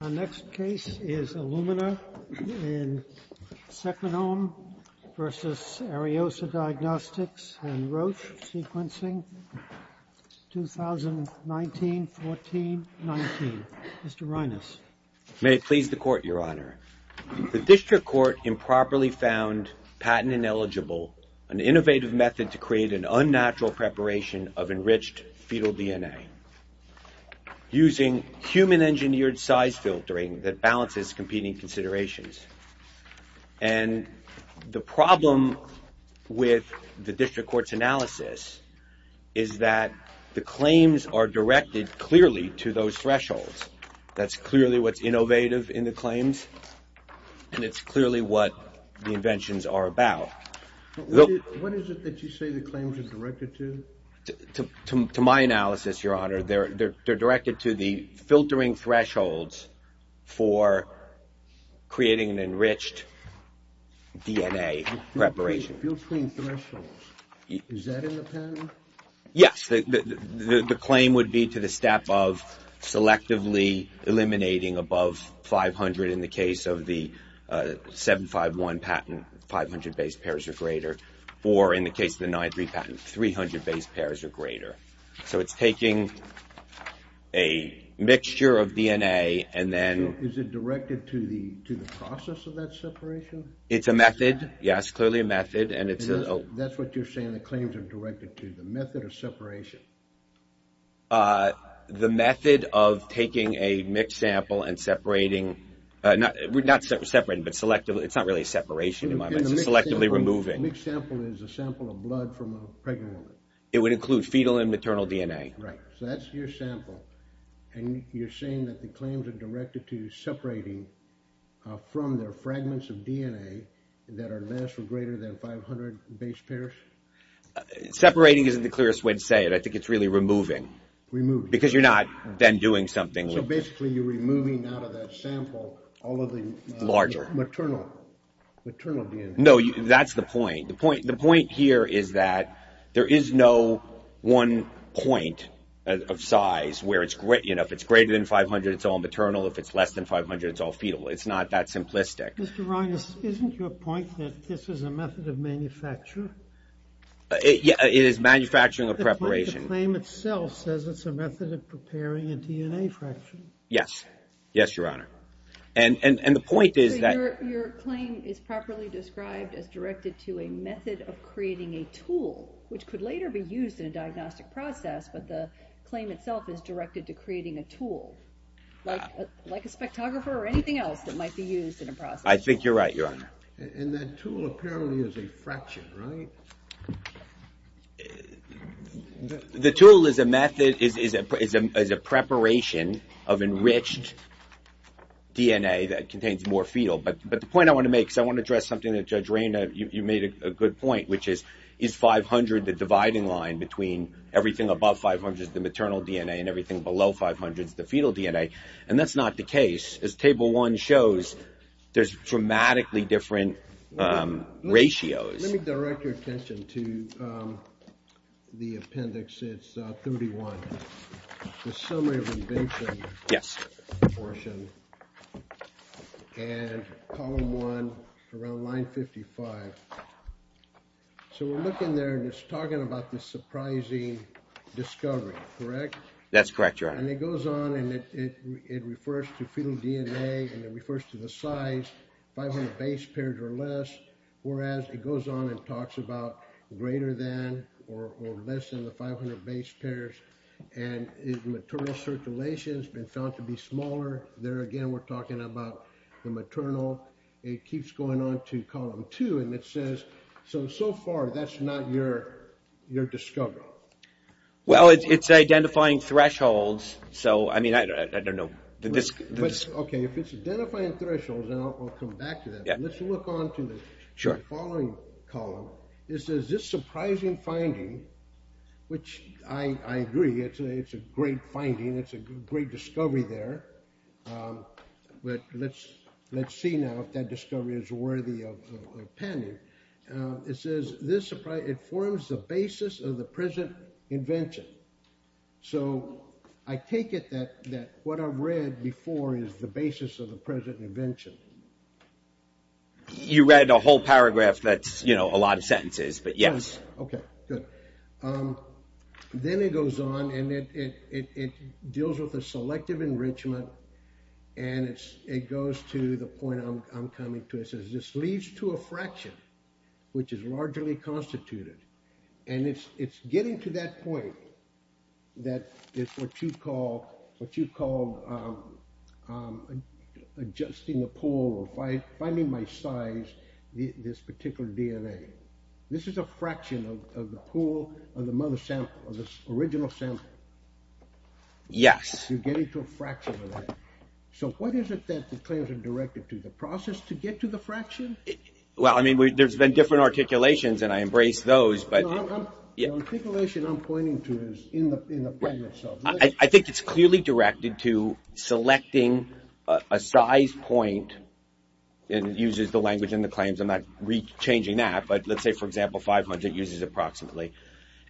Our next case is Illumina in Second Home v. Ariosa Diagnostics and Roche Sequencing, 2019-14-19. Mr. Reines. May it please the Court, Your Honor. The District Court improperly found patent-ineligible an innovative method to create an unnatural preparation of enriched fetal DNA. using human-engineered size filtering that balances competing considerations. And the problem with the District Court's analysis is that the claims are directed clearly to those thresholds. That's clearly what's innovative in the claims, and it's clearly what the inventions are about. What is it that you say the claims are directed to? To my analysis, Your Honor, they're directed to the filtering thresholds for creating an enriched DNA preparation. Filtering thresholds? Is that in the patent? Yes. The claim would be to the step of selectively eliminating above 500 in the case of the 751 patent, 500 base pairs or greater, or in the case of the 93 patent, 300 base pairs or greater. So it's taking a mixture of DNA and then... Is it directed to the process of that separation? It's a method, yes, clearly a method, and it's... That's what you're saying the claims are directed to, the method of separation. The method of taking a mixed sample and separating, not separating, but selectively, it's not really separation in my mind, it's selectively removing. A mixed sample is a sample of blood from a pregnant woman. It would include fetal and maternal DNA. Right, so that's your sample, and you're saying that the claims are directed to separating from their fragments of DNA that are less or greater than 500 base pairs? Separating isn't the clearest way to say it. I think it's really removing. Removing. Because you're not then doing something with... So basically you're removing out of that sample all of the... Larger. Maternal DNA. No, that's the point. The point here is that there is no one point of size where it's... If it's greater than 500, it's all maternal. If it's less than 500, it's all fetal. It's not that simplistic. Mr. Reines, isn't your point that this is a method of manufacture? It is manufacturing of preparation. The claim itself says it's a method of preparing a DNA fraction. Yes. Yes, Your Honor. And the point is that... Your claim is properly described as directed to a method of creating a tool, which could later be used in a diagnostic process, but the claim itself is directed to creating a tool, like a spectrographer or anything else that might be used in a process. I think you're right, Your Honor. And that tool apparently is a fraction, right? The tool is a method, is a preparation of enriched DNA that contains more fetal. But the point I want to make, because I want to address something that Judge Reina, you made a good point, which is, is 500 the dividing line between everything above 500, the maternal DNA, and everything below 500, the fetal DNA? And that's not the case. As Table 1 shows, there's dramatically different ratios. Let me direct your attention to the appendix. It's 31. The summary of invention. Yes. Portion. And column 1, around line 55. So we're looking there, and it's talking about this surprising discovery, correct? That's correct, Your Honor. And it goes on, and it refers to fetal DNA, and it refers to the size, 500 base pairs or less. Whereas it goes on and talks about greater than or less than the 500 base pairs, and maternal circulation has been found to be smaller. There again, we're talking about the maternal. It keeps going on to column 2, and it says, so, so far, that's not your discovery. Well, it's identifying thresholds. So, I mean, I don't know. Okay, if it's identifying thresholds, and I'll come back to that. Let's look on to the following column. It says, this surprising finding, which I agree, it's a great finding. It's a great discovery there. But let's see now if that discovery is worthy of penning. It says, it forms the basis of the present invention. So I take it that what I read before is the basis of the present invention. You read a whole paragraph that's, you know, a lot of sentences, but yes. Okay, good. Then it goes on, and it deals with the selective enrichment, and it goes to the point I'm coming to. It says, this leads to a fraction, which is largely constituted. And it's getting to that point that is what you call adjusting the pool or finding my size, this particular DNA. This is a fraction of the pool of the original sample. Yes. You're getting to a fraction of that. So what is it that the claims are directed to? The process to get to the fraction? Well, I mean, there's been different articulations, and I embrace those, but. The articulation I'm pointing to is in the point itself. I think it's clearly directed to selecting a size point, and it uses the language in the claims. I'm not re-changing that, but let's say, for example, 500 uses approximately.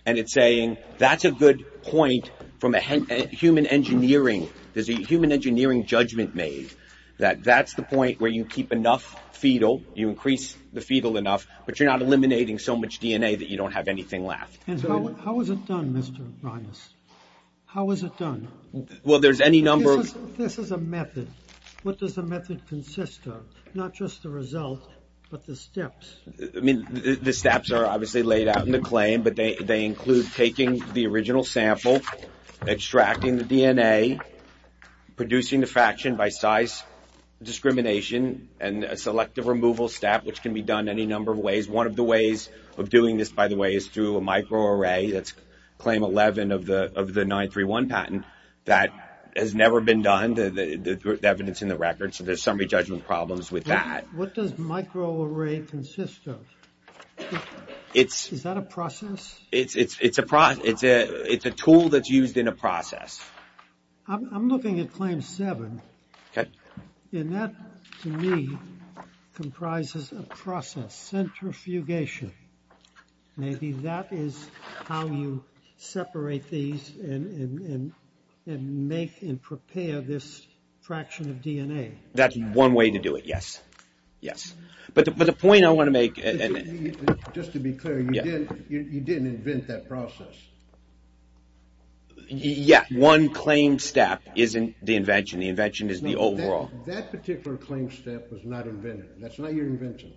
And it's saying, that's a good point from a human engineering. There's a human engineering judgment made that that's the point where you keep enough fetal. You increase the fetal enough, but you're not eliminating so much DNA that you don't have anything left. How is it done, Mr. Reines? How is it done? Well, there's any number of. This is a method. What does the method consist of? Not just the result, but the steps. I mean, the steps are obviously laid out in the claim, but they include taking the original sample, extracting the DNA, producing the fraction by size discrimination, and a selective removal step, which can be done any number of ways. One of the ways of doing this, by the way, is through a microarray. That's claim 11 of the 931 patent. That has never been done, the evidence in the record. So there's summary judgment problems with that. What does microarray consist of? Is that a process? It's a process. It's a tool that's used in a process. I'm looking at claim 7. And that, to me, comprises a process, centrifugation. Maybe that is how you separate these and make and prepare this fraction of DNA. That's one way to do it, yes. Yes. But the point I want to make... Just to be clear, you didn't invent that process. Yeah, one claim step isn't the invention. The invention is the overall. That particular claim step was not invented. That's not your invention.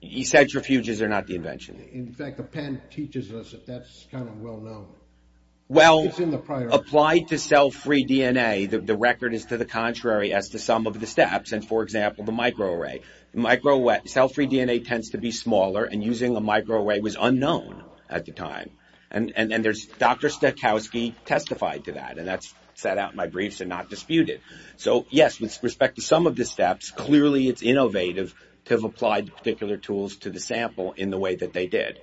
These centrifuges are not the invention. In fact, the patent teaches us that that's kind of well-known. Well, applied to cell-free DNA, the record is to the contrary as to some of the steps. And, for example, the microarray. Cell-free DNA tends to be smaller, and using a microarray was unknown at the time. And Dr. Stokowski testified to that, and that's set out in my briefs and not disputed. So, yes, with respect to some of the steps, clearly it's innovative to have applied particular tools to the sample in the way that they did.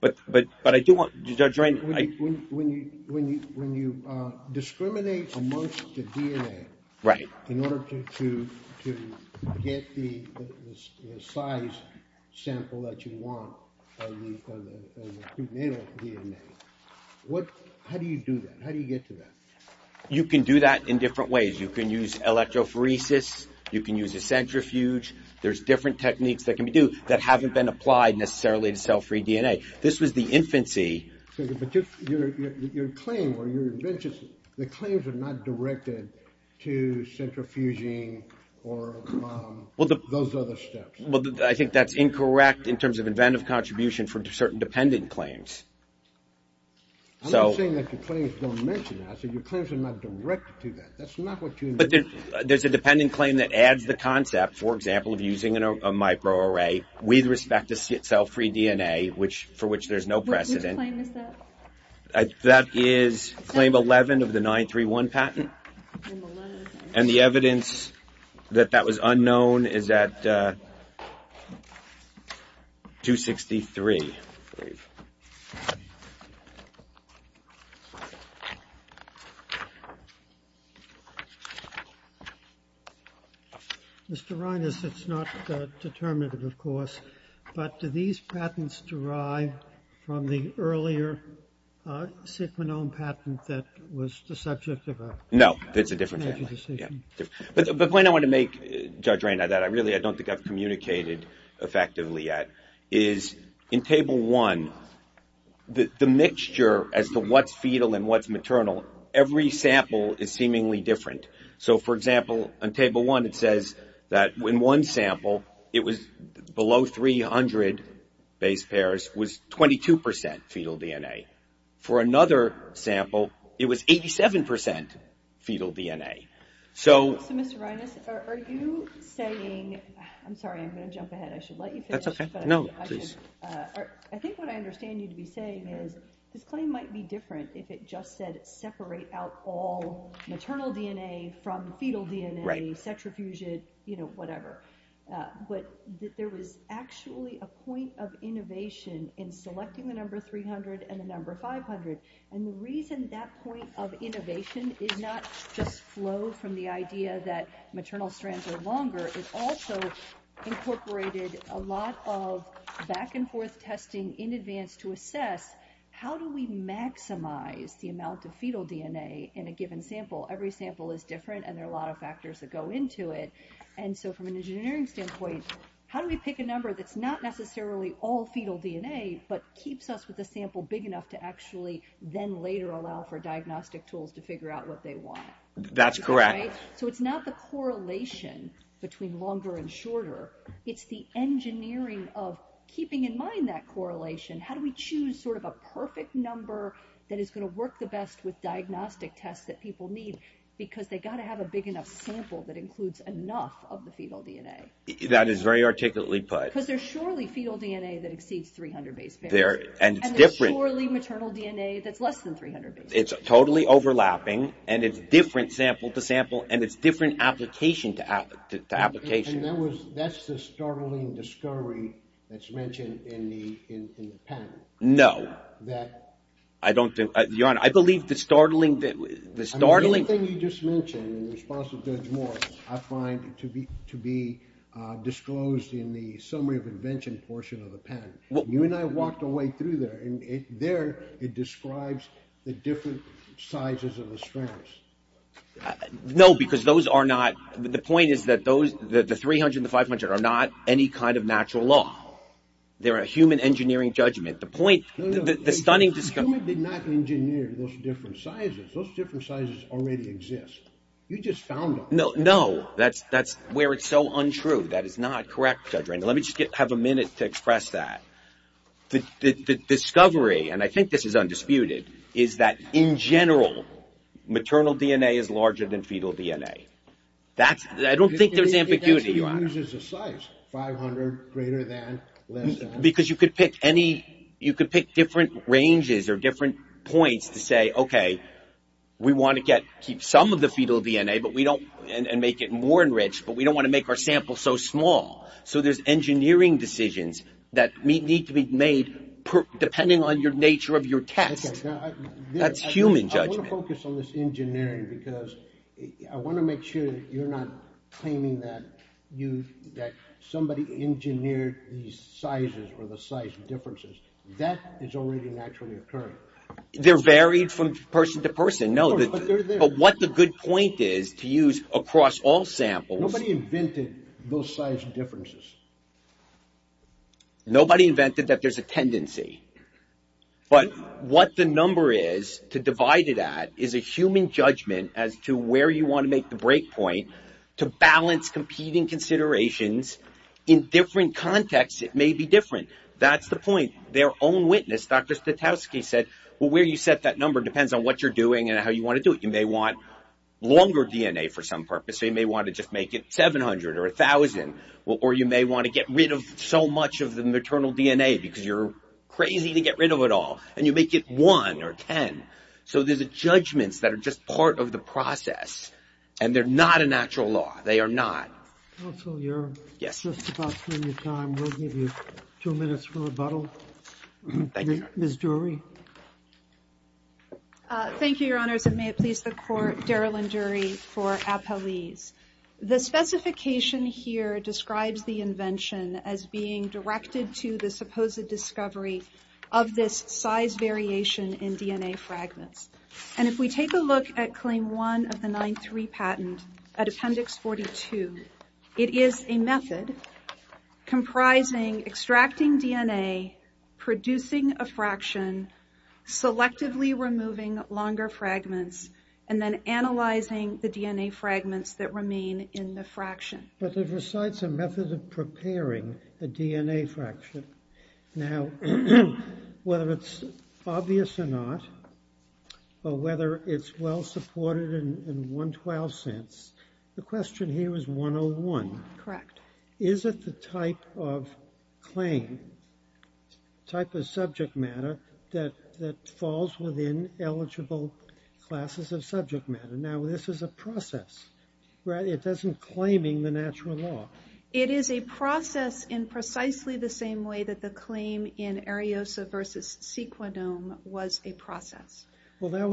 But I do want... When you discriminate amongst the DNA in order to get the size sample that you want of the prenatal DNA, how do you do that? How do you get to that? You can do that in different ways. You can use electrophoresis. You can use a centrifuge. There's different techniques that can be do that haven't been applied necessarily to cell-free DNA. This was the infancy. But your claim or your invention, the claims are not directed to centrifuging or those other steps. Well, I think that's incorrect in terms of inventive contribution for certain dependent claims. I'm not saying that your claims don't mention it. I said your claims are not directed to that. That's not what you... But there's a dependent claim that adds the concept, for example, of using a microarray with respect to cell-free DNA, for which there's no precedent. Which claim is that? That is claim 11 of the 931 patent. And the evidence that that was unknown is at 263. Mr. Reines, it's not determinative, of course. But do these patents derive from the earlier sickmanome patent that was the subject of a... No. It's a different family. But the point I want to make, Judge Reine, that I really don't think I've communicated effectively yet, is in Table 1, the mixture as to what's fetal and what's maternal, every sample is seemingly different. So, for example, on Table 1, it says that in one sample, it was below 300 base pairs was 22% fetal DNA. For another sample, it was 87% fetal DNA. So... So, Mr. Reines, are you saying... I'm sorry, I'm going to jump ahead. I should let you finish. That's okay. No, please. I think what I understand you to be saying is this claim might be different if it just said separate out all maternal DNA from fetal DNA, centrifuged, you know, whatever. But there was actually a point of innovation in selecting the number 300 and the number 500. And the reason that point of innovation is not just flow from the idea that maternal strands are longer, it also incorporated a lot of back and forth testing in advance to assess how do we maximize the amount of fetal DNA in a given sample. Every sample is different, and there are a lot of factors that go into it. And so from an engineering standpoint, how do we pick a number that's not necessarily all fetal DNA, but keeps us with a sample big enough to actually then later allow for diagnostic tools to figure out what they want? That's correct. So it's not the correlation between longer and shorter. It's the engineering of keeping in mind that correlation. How do we choose sort of a perfect number that is going to work the best with diagnostic tests that people need? Because they've got to have a big enough sample that includes enough of the fetal DNA. That is very articulately put. Because there's surely fetal DNA that exceeds 300 base pairs. And there's surely maternal DNA that's less than 300 base pairs. It's totally overlapping, and it's different sample to sample, and it's different application to application. And that's the startling discovery that's mentioned in the panel. No. Your Honor, I believe the startling – The thing you just mentioned in response to Judge Moore I find to be disclosed in the summary of invention portion of the panel. You and I walked our way through there, and there it describes the different sizes of the strands. No, because those are not – the point is that the 300 and the 500 are not any kind of natural law. They're a human engineering judgment. The point – the stunning – No, no. The human did not engineer those different sizes. Those different sizes already exist. You just found them. No, no. That's where it's so untrue. That is not correct, Judge Randall. Let me just have a minute to express that. The discovery, and I think this is undisputed, is that in general, maternal DNA is larger than fetal DNA. That's – I don't think there's ambiguity, Your Honor. It actually uses a size, 500 greater than, less than. Because you could pick any – you could pick different ranges or different points to say, okay, we want to get – keep some of the fetal DNA, but we don't – and make it more enriched, but we don't want to make our sample so small. So there's engineering decisions that need to be made depending on your nature of your test. That's human judgment. I want to focus on this engineering because I want to make sure that you're not claiming that you – that somebody engineered these sizes or the size differences. That is already naturally occurring. They're varied from person to person. No, but what the good point is to use across all samples – Nobody invented those size differences. Nobody invented that there's a tendency. But what the number is to divide it at is a human judgment as to where you want to make the break point to balance competing considerations in different contexts. It may be different. That's the point. Their own witness, Dr. Stutowski, said, well, where you set that number depends on what you're doing and how you want to do it. You may want longer DNA for some purpose. You may want to just make it 700 or 1,000. Or you may want to get rid of so much of the maternal DNA because you're crazy to get rid of it all. And you make it 1 or 10. So there's judgments that are just part of the process. And they're not a natural law. They are not. Counsel, you're just about running out of time. We'll give you two minutes for rebuttal. Thank you. Ms. Dury. Thank you, Your Honors. And may it please the Court, Daryl and Dury for Apeliz. The specification here describes the invention as being directed to the supposed discovery of this size variation in DNA fragments. And if we take a look at Claim 1 of the 9-3 patent at Appendix 42, it is a method comprising extracting DNA, producing a fraction, selectively removing longer fragments, and then analyzing the DNA fragments that remain in the fraction. But it recites a method of preparing a DNA fraction. Now, whether it's obvious or not, or whether it's well-supported in 112 sense, the question here is 101. Correct. Is it the type of claim, type of subject matter, that falls within eligible classes of subject matter? Now, this is a process, right? It isn't claiming the natural law. It is a process in precisely the same way that the claim in Ariosa v. Sequinome was a process. It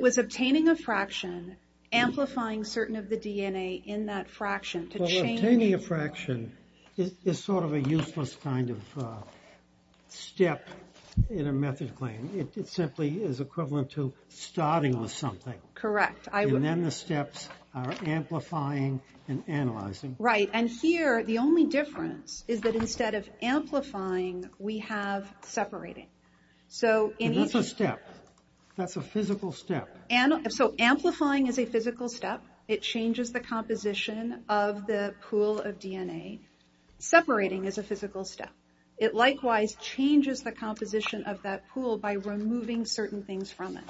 was obtaining a fraction, amplifying certain of the DNA in that fraction to change... Well, obtaining a fraction is sort of a useless kind of step in a method claim. It simply is equivalent to starting with something. Correct. And then the steps are amplifying and analyzing. Right. And here, the only difference is that instead of amplifying, we have separating. That's a step. That's a physical step. So amplifying is a physical step. It changes the composition of the pool of DNA. Separating is a physical step. It likewise changes the composition of that pool by removing certain things from it.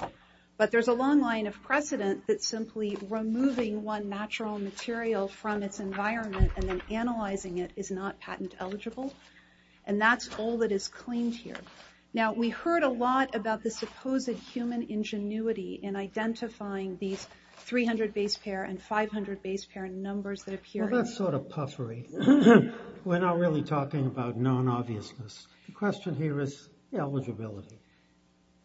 But there's a long line of precedent that simply removing one natural material from its environment and then analyzing it is not patent eligible. And that's all that is claimed here. Now, we heard a lot about the supposed human ingenuity in identifying these 300 base pair and 500 base pair numbers that appear... Well, that's sort of puffery. We're not really talking about known obviousness. The question here is eligibility.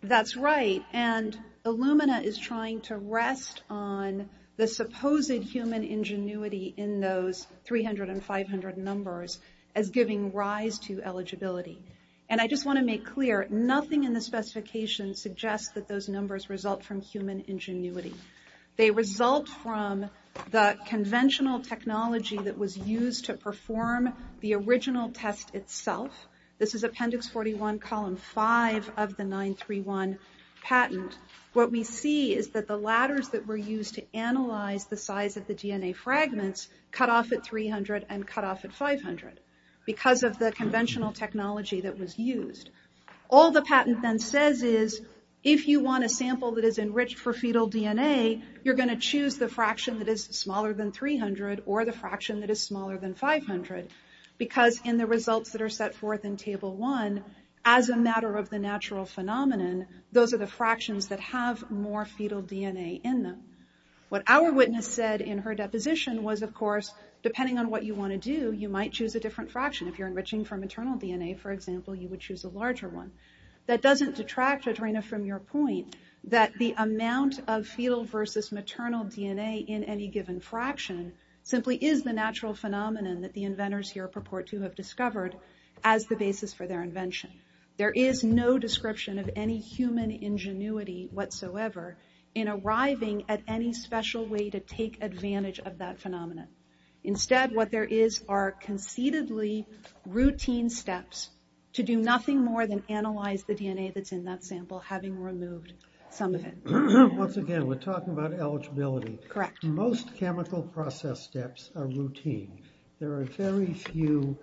That's right. And Illumina is trying to rest on the supposed human ingenuity in those 300 and 500 numbers as giving rise to eligibility. And I just want to make clear, nothing in the specification suggests that those numbers result from human ingenuity. They result from the conventional technology that was used to perform the original test itself. This is Appendix 41, Column 5 of the 931 patent. What we see is that the ladders that were used to analyze the size of the DNA fragments cut off at 300 and cut off at 500 because of the conventional technology that was used. All the patent then says is, if you want a sample that is enriched for fetal DNA, you're going to choose the fraction that is smaller than 300 or the fraction that is smaller than 500 because in the results that are set forth in Table 1, as a matter of the natural phenomenon, those are the fractions that have more fetal DNA in them. What our witness said in her deposition was, of course, depending on what you want to do, you might choose a different fraction. If you're enriching for maternal DNA, for example, you would choose a larger one. That doesn't detract, Adrena, from your point that the amount of fetal versus maternal DNA in any given fraction simply is the natural phenomenon that the inventors here purport to have discovered as the basis for their invention. There is no description of any human ingenuity whatsoever in arriving at any special way to take advantage of that phenomenon. Instead, what there is are conceitedly routine steps to do nothing more than analyze the DNA that's in that sample, having removed some of it. Once again, we're talking about eligibility. Correct. Most chemical process steps are routine. There are very few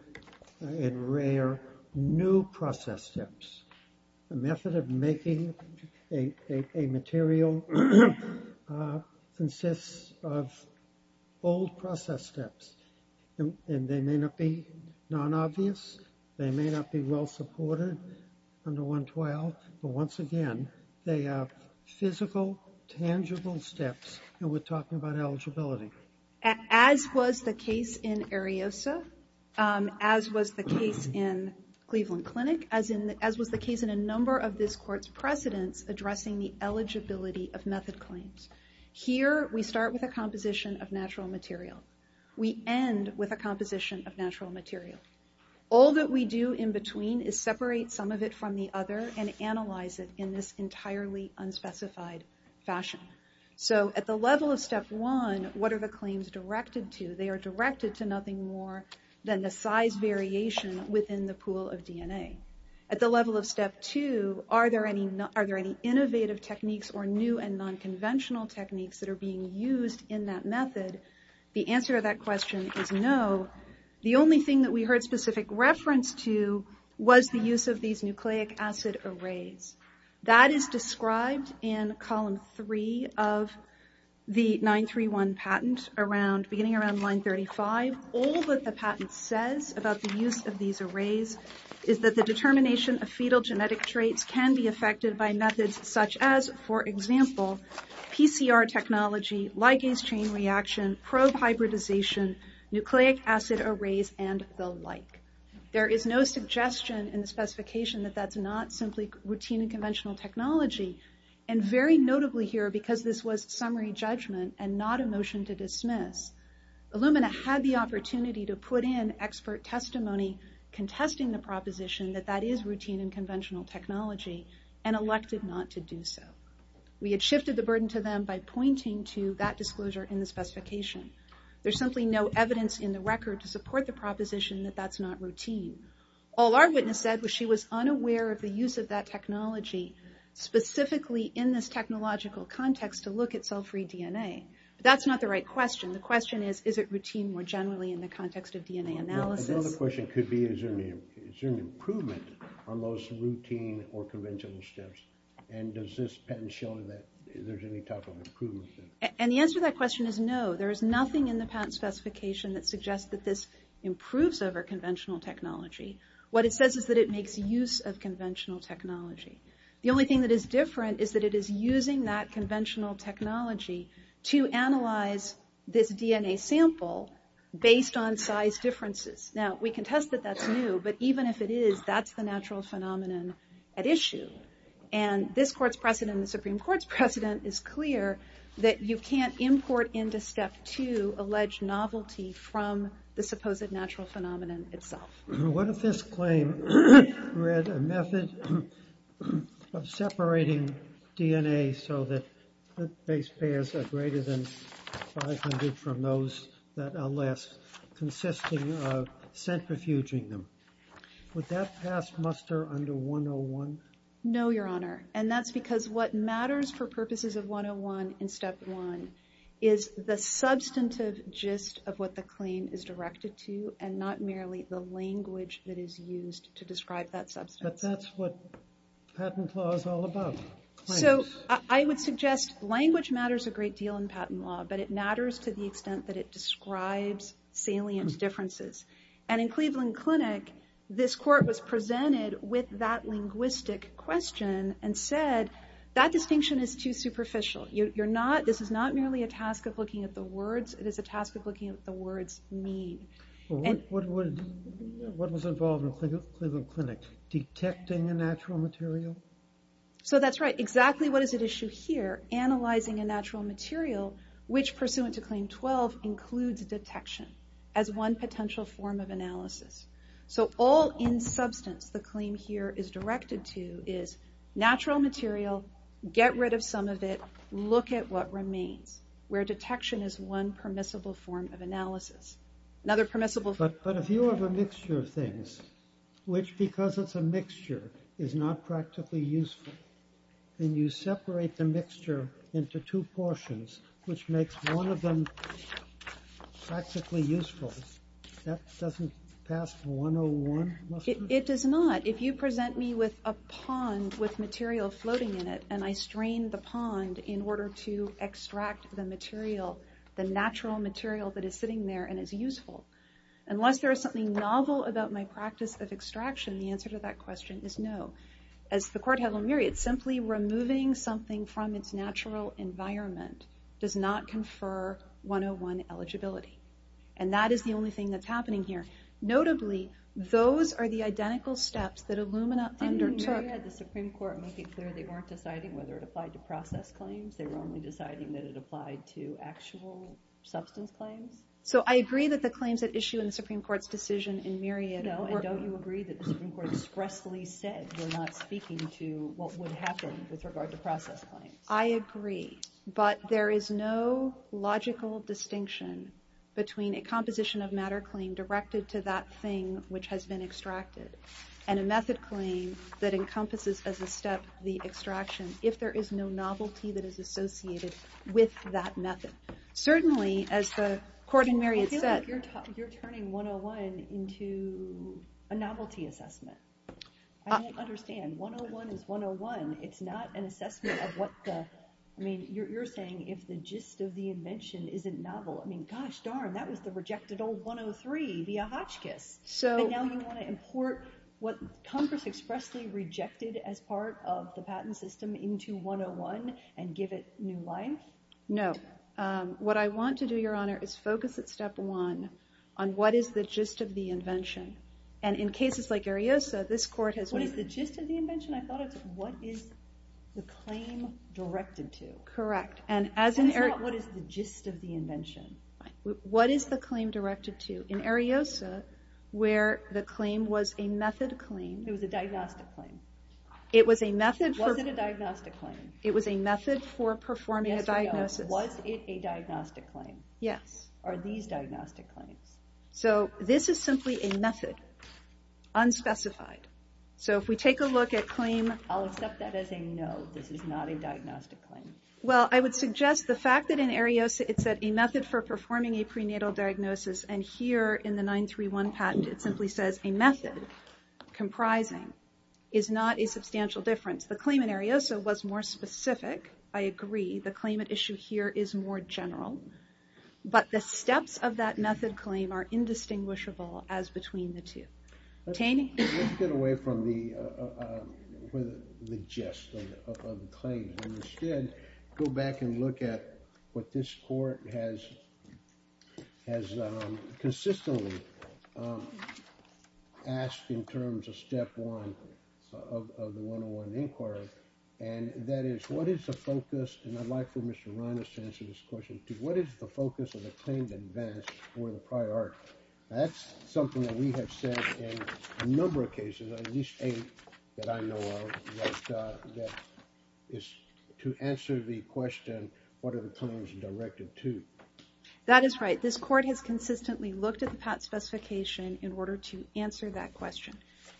and rare new process steps. The method of making a material consists of old process steps, and they may not be non-obvious. They may not be well supported under 112. But once again, they are physical, tangible steps, and we're talking about eligibility. As was the case in Ariosa, as was the case in Cleveland Clinic, as was the case in a number of this Court's precedents addressing the eligibility of method claims. Here, we start with a composition of natural material. We end with a composition of natural material. All that we do in between is separate some of it from the other and analyze it in this entirely unspecified fashion. So at the level of step one, what are the claims directed to? They are directed to nothing more than the size variation within the pool of DNA. At the level of step two, are there any innovative techniques or new and non-conventional techniques that are being used in that method? The answer to that question is no. The only thing that we heard specific reference to was the use of these nucleic acid arrays. That is described in column three of the 931 patent beginning around line 35. All that the patent says about the use of these arrays is that the determination of fetal genetic traits can be affected by methods such as, for example, PCR technology, ligase chain reaction, probe hybridization, nucleic acid arrays, and the like. There is no suggestion in the specification that that's not simply routine and conventional technology. And very notably here, because this was summary judgment and not a motion to dismiss, Illumina had the opportunity to put in expert testimony contesting the proposition that that is routine and conventional technology and elected not to do so. We had shifted the burden to them by pointing to that disclosure in the specification. There's simply no evidence in the record to support the proposition that that's not routine. All our witness said was she was unaware of the use of that technology specifically in this technological context to look at cell-free DNA. But that's not the right question. The question is, is it routine more generally in the context of DNA analysis? The other question could be, is there an improvement on those routine or conventional steps? And does this patent show that there's any type of improvement there? And the answer to that question is no. There is nothing in the patent specification that suggests that this improves over conventional technology. What it says is that it makes use of conventional technology. The only thing that is different is that it is using that conventional technology to analyze this DNA sample based on size differences. Now, we can test that that's new, but even if it is, that's the natural phenomenon at issue. And this Court's precedent and the Supreme Court's precedent is clear that you can't import into Step 2 to allege novelty from the supposed natural phenomenon itself. What if this claim read a method of separating DNA so that the base pairs are greater than 500 from those that are less, consisting of centrifuging them? Would that pass muster under 101? No, Your Honor. And that's because what matters for purposes of 101 in Step 1 is the substantive gist of what the claim is directed to and not merely the language that is used to describe that substance. But that's what patent law is all about. So I would suggest language matters a great deal in patent law, but it matters to the extent that it describes salient differences. And in Cleveland Clinic, this Court was presented with that linguistic question and said that distinction is too superficial. This is not merely a task of looking at the words, it is a task of looking at the words mean. What was involved in Cleveland Clinic? Detecting a natural material? So that's right. Exactly what is at issue here, analyzing a natural material, which pursuant to Claim 12 includes detection as one potential form of analysis. So all in substance the claim here is directed to is natural material, get rid of some of it, look at what remains, where detection is one permissible form of analysis. But if you have a mixture of things, which because it's a mixture is not practically useful, and you separate the mixture into two portions, which makes one of them practically useful, that doesn't pass 101, must it? It does not. But if you present me with a pond with material floating in it, and I strain the pond in order to extract the material, the natural material that is sitting there and is useful, unless there is something novel about my practice of extraction, the answer to that question is no. As the Court held a myriad, simply removing something from its natural environment does not confer 101 eligibility. And that is the only thing that's happening here. Notably, those are the identical steps that Illumina undertook. Didn't Marietta, the Supreme Court, make it clear they weren't deciding whether it applied to process claims? They were only deciding that it applied to actual substance claims? So I agree that the claims at issue in the Supreme Court's decision in Marietta, and don't you agree that the Supreme Court expressly said we're not speaking to what would happen with regard to process claims? I agree. But there is no logical distinction between a composition of matter claim directed to that thing which has been extracted, and a method claim that encompasses as a step the extraction, if there is no novelty that is associated with that method. Certainly, as the Court in Marietta said... I feel like you're turning 101 into a novelty assessment. I don't understand. 101 is 101. It's not an assessment of what the... I mean, you're saying if the gist of the invention isn't novel. I mean, gosh darn, that was the rejected old 103 via Hotchkiss. And now you want to import what Congress expressly rejected as part of the patent system into 101 and give it new life? No. What I want to do, Your Honor, is focus at step one on what is the gist of the invention. And in cases like Ariosa, this Court has... What is the gist of the invention? I thought it's what is the claim directed to. Correct. What is the gist of the invention? What is the claim directed to? In Ariosa, where the claim was a method claim... It was a diagnostic claim. It was a method for... Was it a diagnostic claim? It was a method for performing a diagnosis. Yes or no, was it a diagnostic claim? Yes. Are these diagnostic claims? So this is simply a method, unspecified. So if we take a look at claim... I'll accept that as a no, this is not a diagnostic claim. Well, I would suggest the fact that in Ariosa, it said a method for performing a prenatal diagnosis and here in the 931 patent, it simply says a method comprising is not a substantial difference. The claim in Ariosa was more specific, I agree. The claim at issue here is more general. But the steps of that method claim are indistinguishable as between the two. Let's get away from the gist of the claim. Instead, go back and look at what this court has consistently asked in terms of step one of the 101 Inquiry. And that is, what is the focus... And I'd like for Mr. Reines to answer this question. What is the focus of the claim that vanished for the prior art? That's something that we have said in a number of cases, at least eight that I know of, that is to answer the question, what are the claims directed to? That is right, this court has consistently looked at the patent specification in order to answer that question.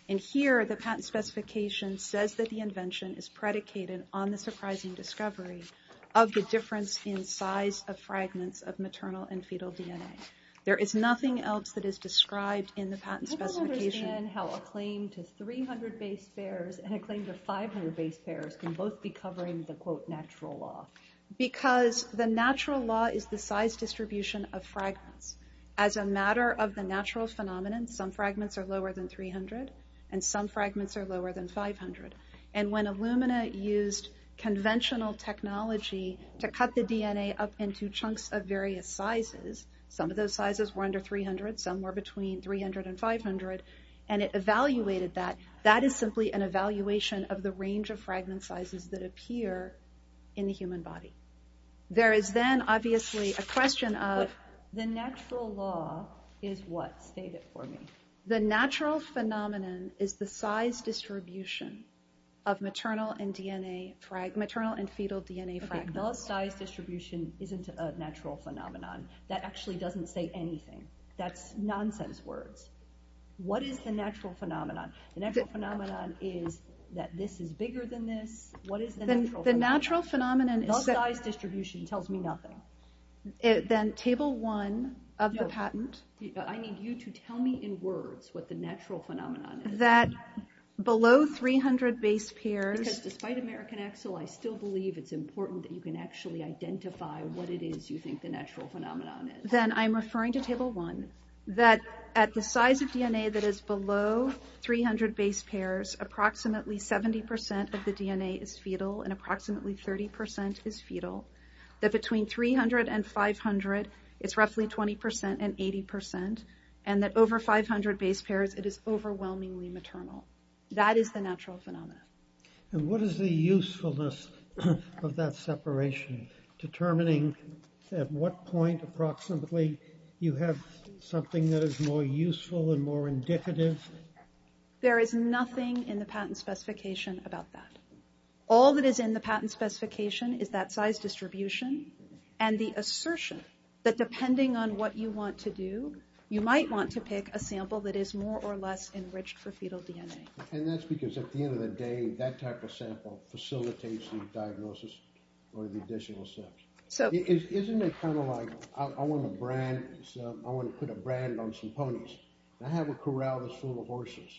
And here, the patent specification says that the invention is predicated on the surprising discovery of the difference in size of fragments of maternal and fetal DNA. There is nothing else that is described in the patent specification. I'm interested in how a claim to 300 base pairs and a claim to 500 base pairs can both be covering the, quote, natural law. Because the natural law is the size distribution of fragments. As a matter of the natural phenomenon, some fragments are lower than 300, and some fragments are lower than 500. And when Illumina used conventional technology to cut the DNA up into chunks of various sizes, some of those sizes were under 300, some were between 300 and 500, and it evaluated that. That is simply an evaluation of the range of fragment sizes that appear in the human body. There is then, obviously, a question of... The natural law is what? State it for me. The natural phenomenon is the size distribution of maternal and fetal DNA fragments. Okay, the size distribution isn't a natural phenomenon. That actually doesn't say anything. That's nonsense words. What is the natural phenomenon? The natural phenomenon is that this is bigger than this. What is the natural phenomenon? The natural phenomenon is that... The size distribution tells me nothing. Then Table 1 of the patent... No, I need you to tell me in words what the natural phenomenon is. That below 300 base pairs... Because despite American Excel, I still believe it's important that you can actually identify what it is you think the natural phenomenon is. Then I'm referring to Table 1, that at the size of DNA that is below 300 base pairs, approximately 70% of the DNA is fetal, and approximately 30% is fetal. That between 300 and 500, it's roughly 20% and 80%. And that over 500 base pairs, it is overwhelmingly maternal. That is the natural phenomenon. And what is the usefulness of that separation, determining at what point approximately you have something that is more useful and more indicative? There is nothing in the patent specification about that. All that is in the patent specification is that size distribution and the assertion that depending on what you want to do, you might want to pick a sample that is more or less enriched for fetal DNA. And that's because at the end of the day, that type of sample facilitates the diagnosis or the additional steps. Isn't it kind of like I want to put a brand on some ponies? I have a corral that's full of horses.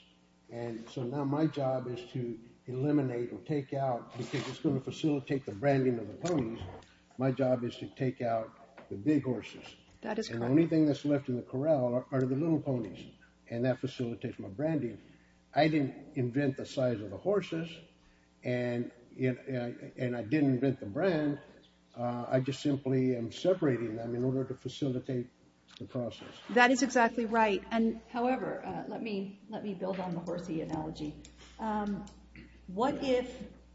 And so now my job is to eliminate or take out, because it's going to facilitate the branding of the ponies, my job is to take out the big horses. And the only thing that's left in the corral are the little ponies, and that facilitates my branding. I didn't invent the size of the horses, and I didn't invent the brand. I just simply am separating them in order to facilitate the process. That is exactly right. However, let me build on the horsey analogy. What if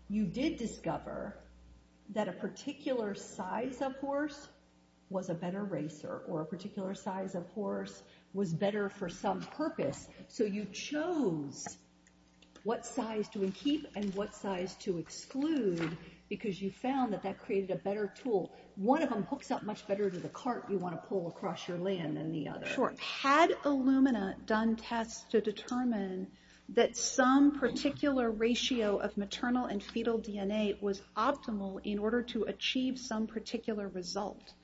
you did discover that a particular size of horse was a better racer or a particular size of horse was better for some purpose? So you chose what size to keep and what size to exclude, because you found that that created a better tool. One of them hooks up much better to the cart you want to pull across your land than the other. Sure. Had Illumina done tests to determine that some particular ratio of maternal and fetal DNA was optimal in order to achieve some particular result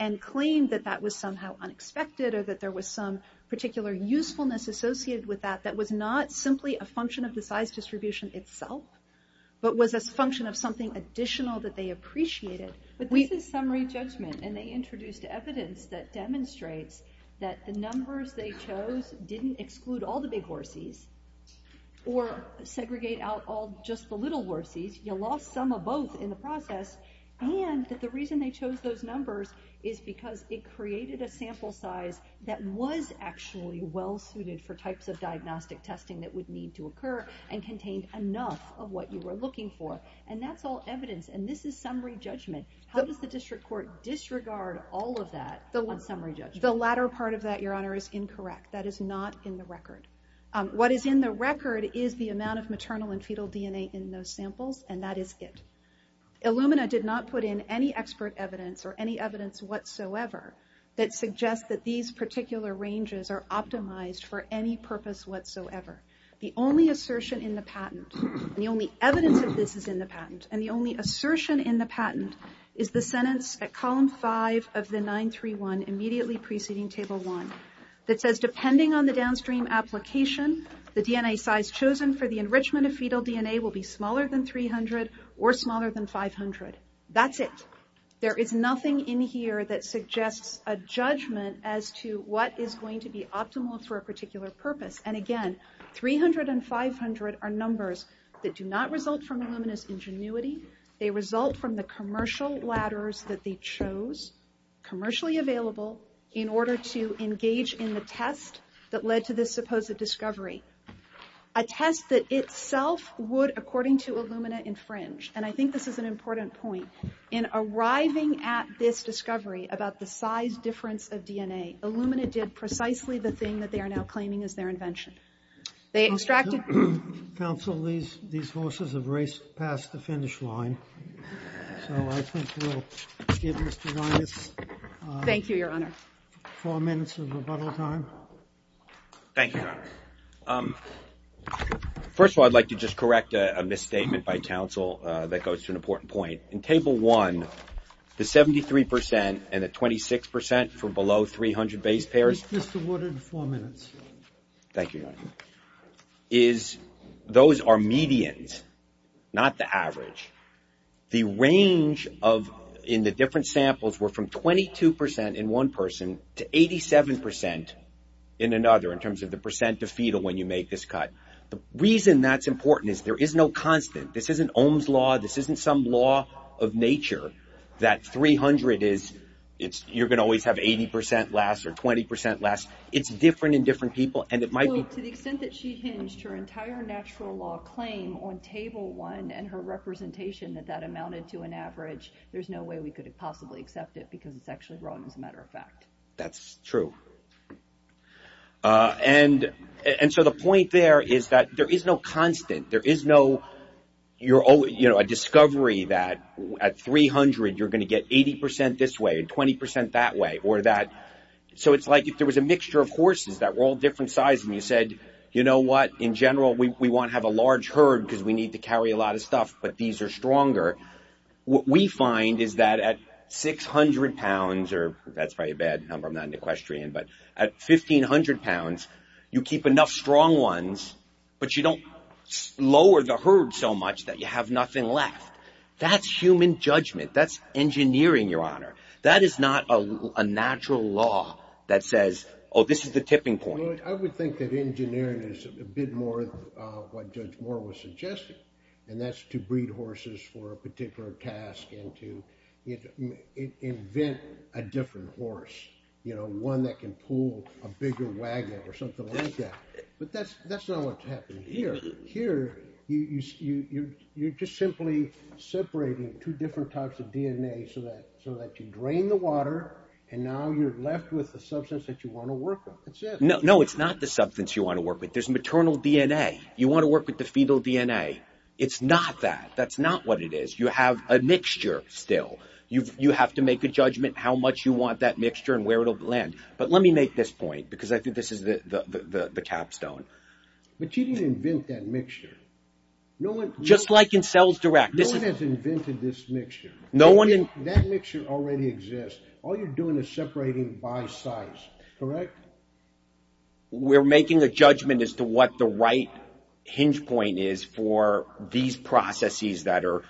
and claimed that that was somehow unexpected or that there was some particular usefulness associated with that that was not simply a function of the size distribution itself, but was a function of something additional that they appreciated. But this is summary judgment, and they introduced evidence that demonstrates that the numbers they chose didn't exclude all the big horsies or segregate out all just the little horsies. You lost some of both in the process, and that the reason they chose those numbers is because it created a sample size that was actually well-suited for types of diagnostic testing that would need to occur and contained enough of what you were looking for. And that's all evidence, and this is summary judgment. How does the district court disregard all of that on summary judgment? The latter part of that, Your Honor, is incorrect. That is not in the record. What is in the record is the amount of maternal and fetal DNA in those samples, and that is it. Illumina did not put in any expert evidence or any evidence whatsoever that suggests that these particular ranges are optimized for any purpose whatsoever. The only assertion in the patent, and the only evidence of this is in the patent, and the only assertion in the patent is the sentence at column 5 of the 931, immediately preceding table 1, that says depending on the downstream application, the DNA size chosen for the enrichment of fetal DNA will be smaller than 300 or smaller than 500. That's it. There is nothing in here that suggests a judgment as to what is going to be optimal for a particular purpose. And again, 300 and 500 are numbers that do not result from Illumina's ingenuity. They result from the commercial ladders that they chose, commercially available, in order to engage in the test that led to this supposed discovery. A test that itself would, according to Illumina, infringe. And I think this is an important point. In arriving at this discovery about the size difference of DNA, Illumina did precisely the thing that they are now claiming is their invention. They extracted... Counsel, these horses have raced past the finish line. So I think we'll give Mr. Linus... Thank you, Your Honor. ...four minutes of rebuttal time. Thank you, Your Honor. First of all, I'd like to just correct a misstatement by counsel that goes to an important point. In Table 1, the 73% and the 26% for below 300 base pairs... Mr. Woodard, four minutes. Thank you, Your Honor. ...is those are medians, not the average. The range in the different samples were from 22% in one person to 87% in another, in terms of the percent of fetal when you make this cut. The reason that's important is there is no constant. This isn't Ohm's Law. This isn't some law of nature that 300 is... You're going to always have 80% less or 20% less. It's different in different people, and it might be... To the extent that she hinged her entire natural law claim on Table 1 and her representation that that amounted to an average, there's no way we could have possibly accepted it because it's actually wrong, as a matter of fact. That's true. And so the point there is that there is no constant. There is no... You know, a discovery that at 300, you're going to get 80% this way and 20% that way, or that... So it's like if there was a mixture of horses that were all different sizes, and you said, you know what, in general, we want to have a large herd because we need to carry a lot of stuff, but these are stronger. What we find is that at 600 pounds, or that's probably a bad number. I'm not an equestrian. But at 1,500 pounds, you keep enough strong ones, but you don't lower the herd so much that you have nothing left. That's human judgment. That's engineering, Your Honor. That is not a natural law that says, oh, this is the tipping point. I would think that engineering is a bit more what Judge Moore was suggesting, and that's to breed horses for a particular task and to invent a different horse, you know, one that can pull a bigger wagon or something like that. But that's not what's happening here. Here, you're just simply separating two different types of DNA so that you drain the water, and now you're left with the substance that you want to work with. That's it. No, it's not the substance you want to work with. There's maternal DNA. You want to work with the fetal DNA. It's not that. That's not what it is. You have a mixture still. You have to make a judgment how much you want that mixture and where it will land. But let me make this point, because I think this is the capstone. But you didn't invent that mixture. Just like in Cells Direct. No one has invented this mixture. That mixture already exists. All you're doing is separating by size, correct? We're making a judgment as to what the right hinge point is for these processes that are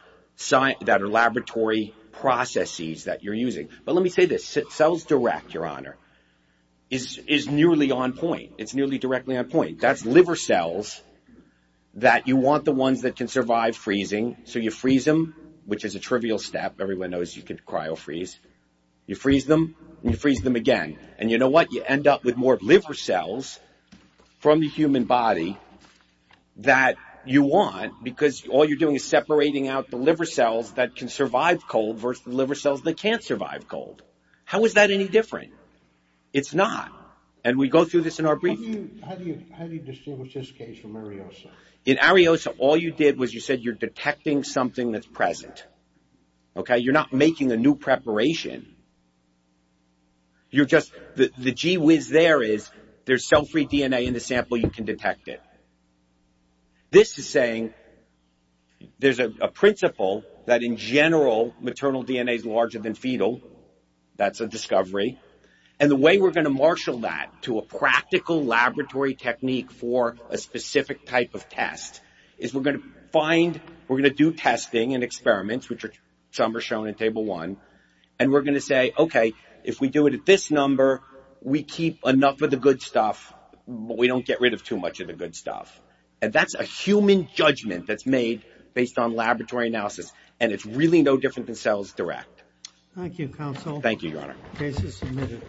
laboratory processes that you're using. But let me say this. Cells Direct, Your Honor, is nearly on point. It's nearly directly on point. That's liver cells that you want the ones that can survive freezing. So you freeze them, which is a trivial step. Everyone knows you could cryo-freeze. You freeze them, and you freeze them again. And you know what? You end up with more liver cells from the human body that you want because all you're doing is separating out the liver cells that can survive cold versus the liver cells that can't survive cold. How is that any different? It's not. And we go through this in our briefing. How do you distinguish this case from Ariosa? In Ariosa, all you did was you said you're detecting something that's present. Okay? You're not making a new preparation. You're just... The gee whiz there is there's cell-free DNA in the sample. You can detect it. This is saying there's a principle that in general, maternal DNA is larger than fetal. That's a discovery. And the way we're going to marshal that to a practical laboratory technique for a specific type of test is we're going to find... We're going to do testing and experiments, which some are shown in Table 1. And we're going to say, okay, if we do it at this number, we keep enough of the good stuff, but we don't get rid of too much of the good stuff. And that's a human judgment that's made based on laboratory analysis. And it's really no different than cells direct. Thank you, Counsel. Thank you, Your Honor. Case is submitted.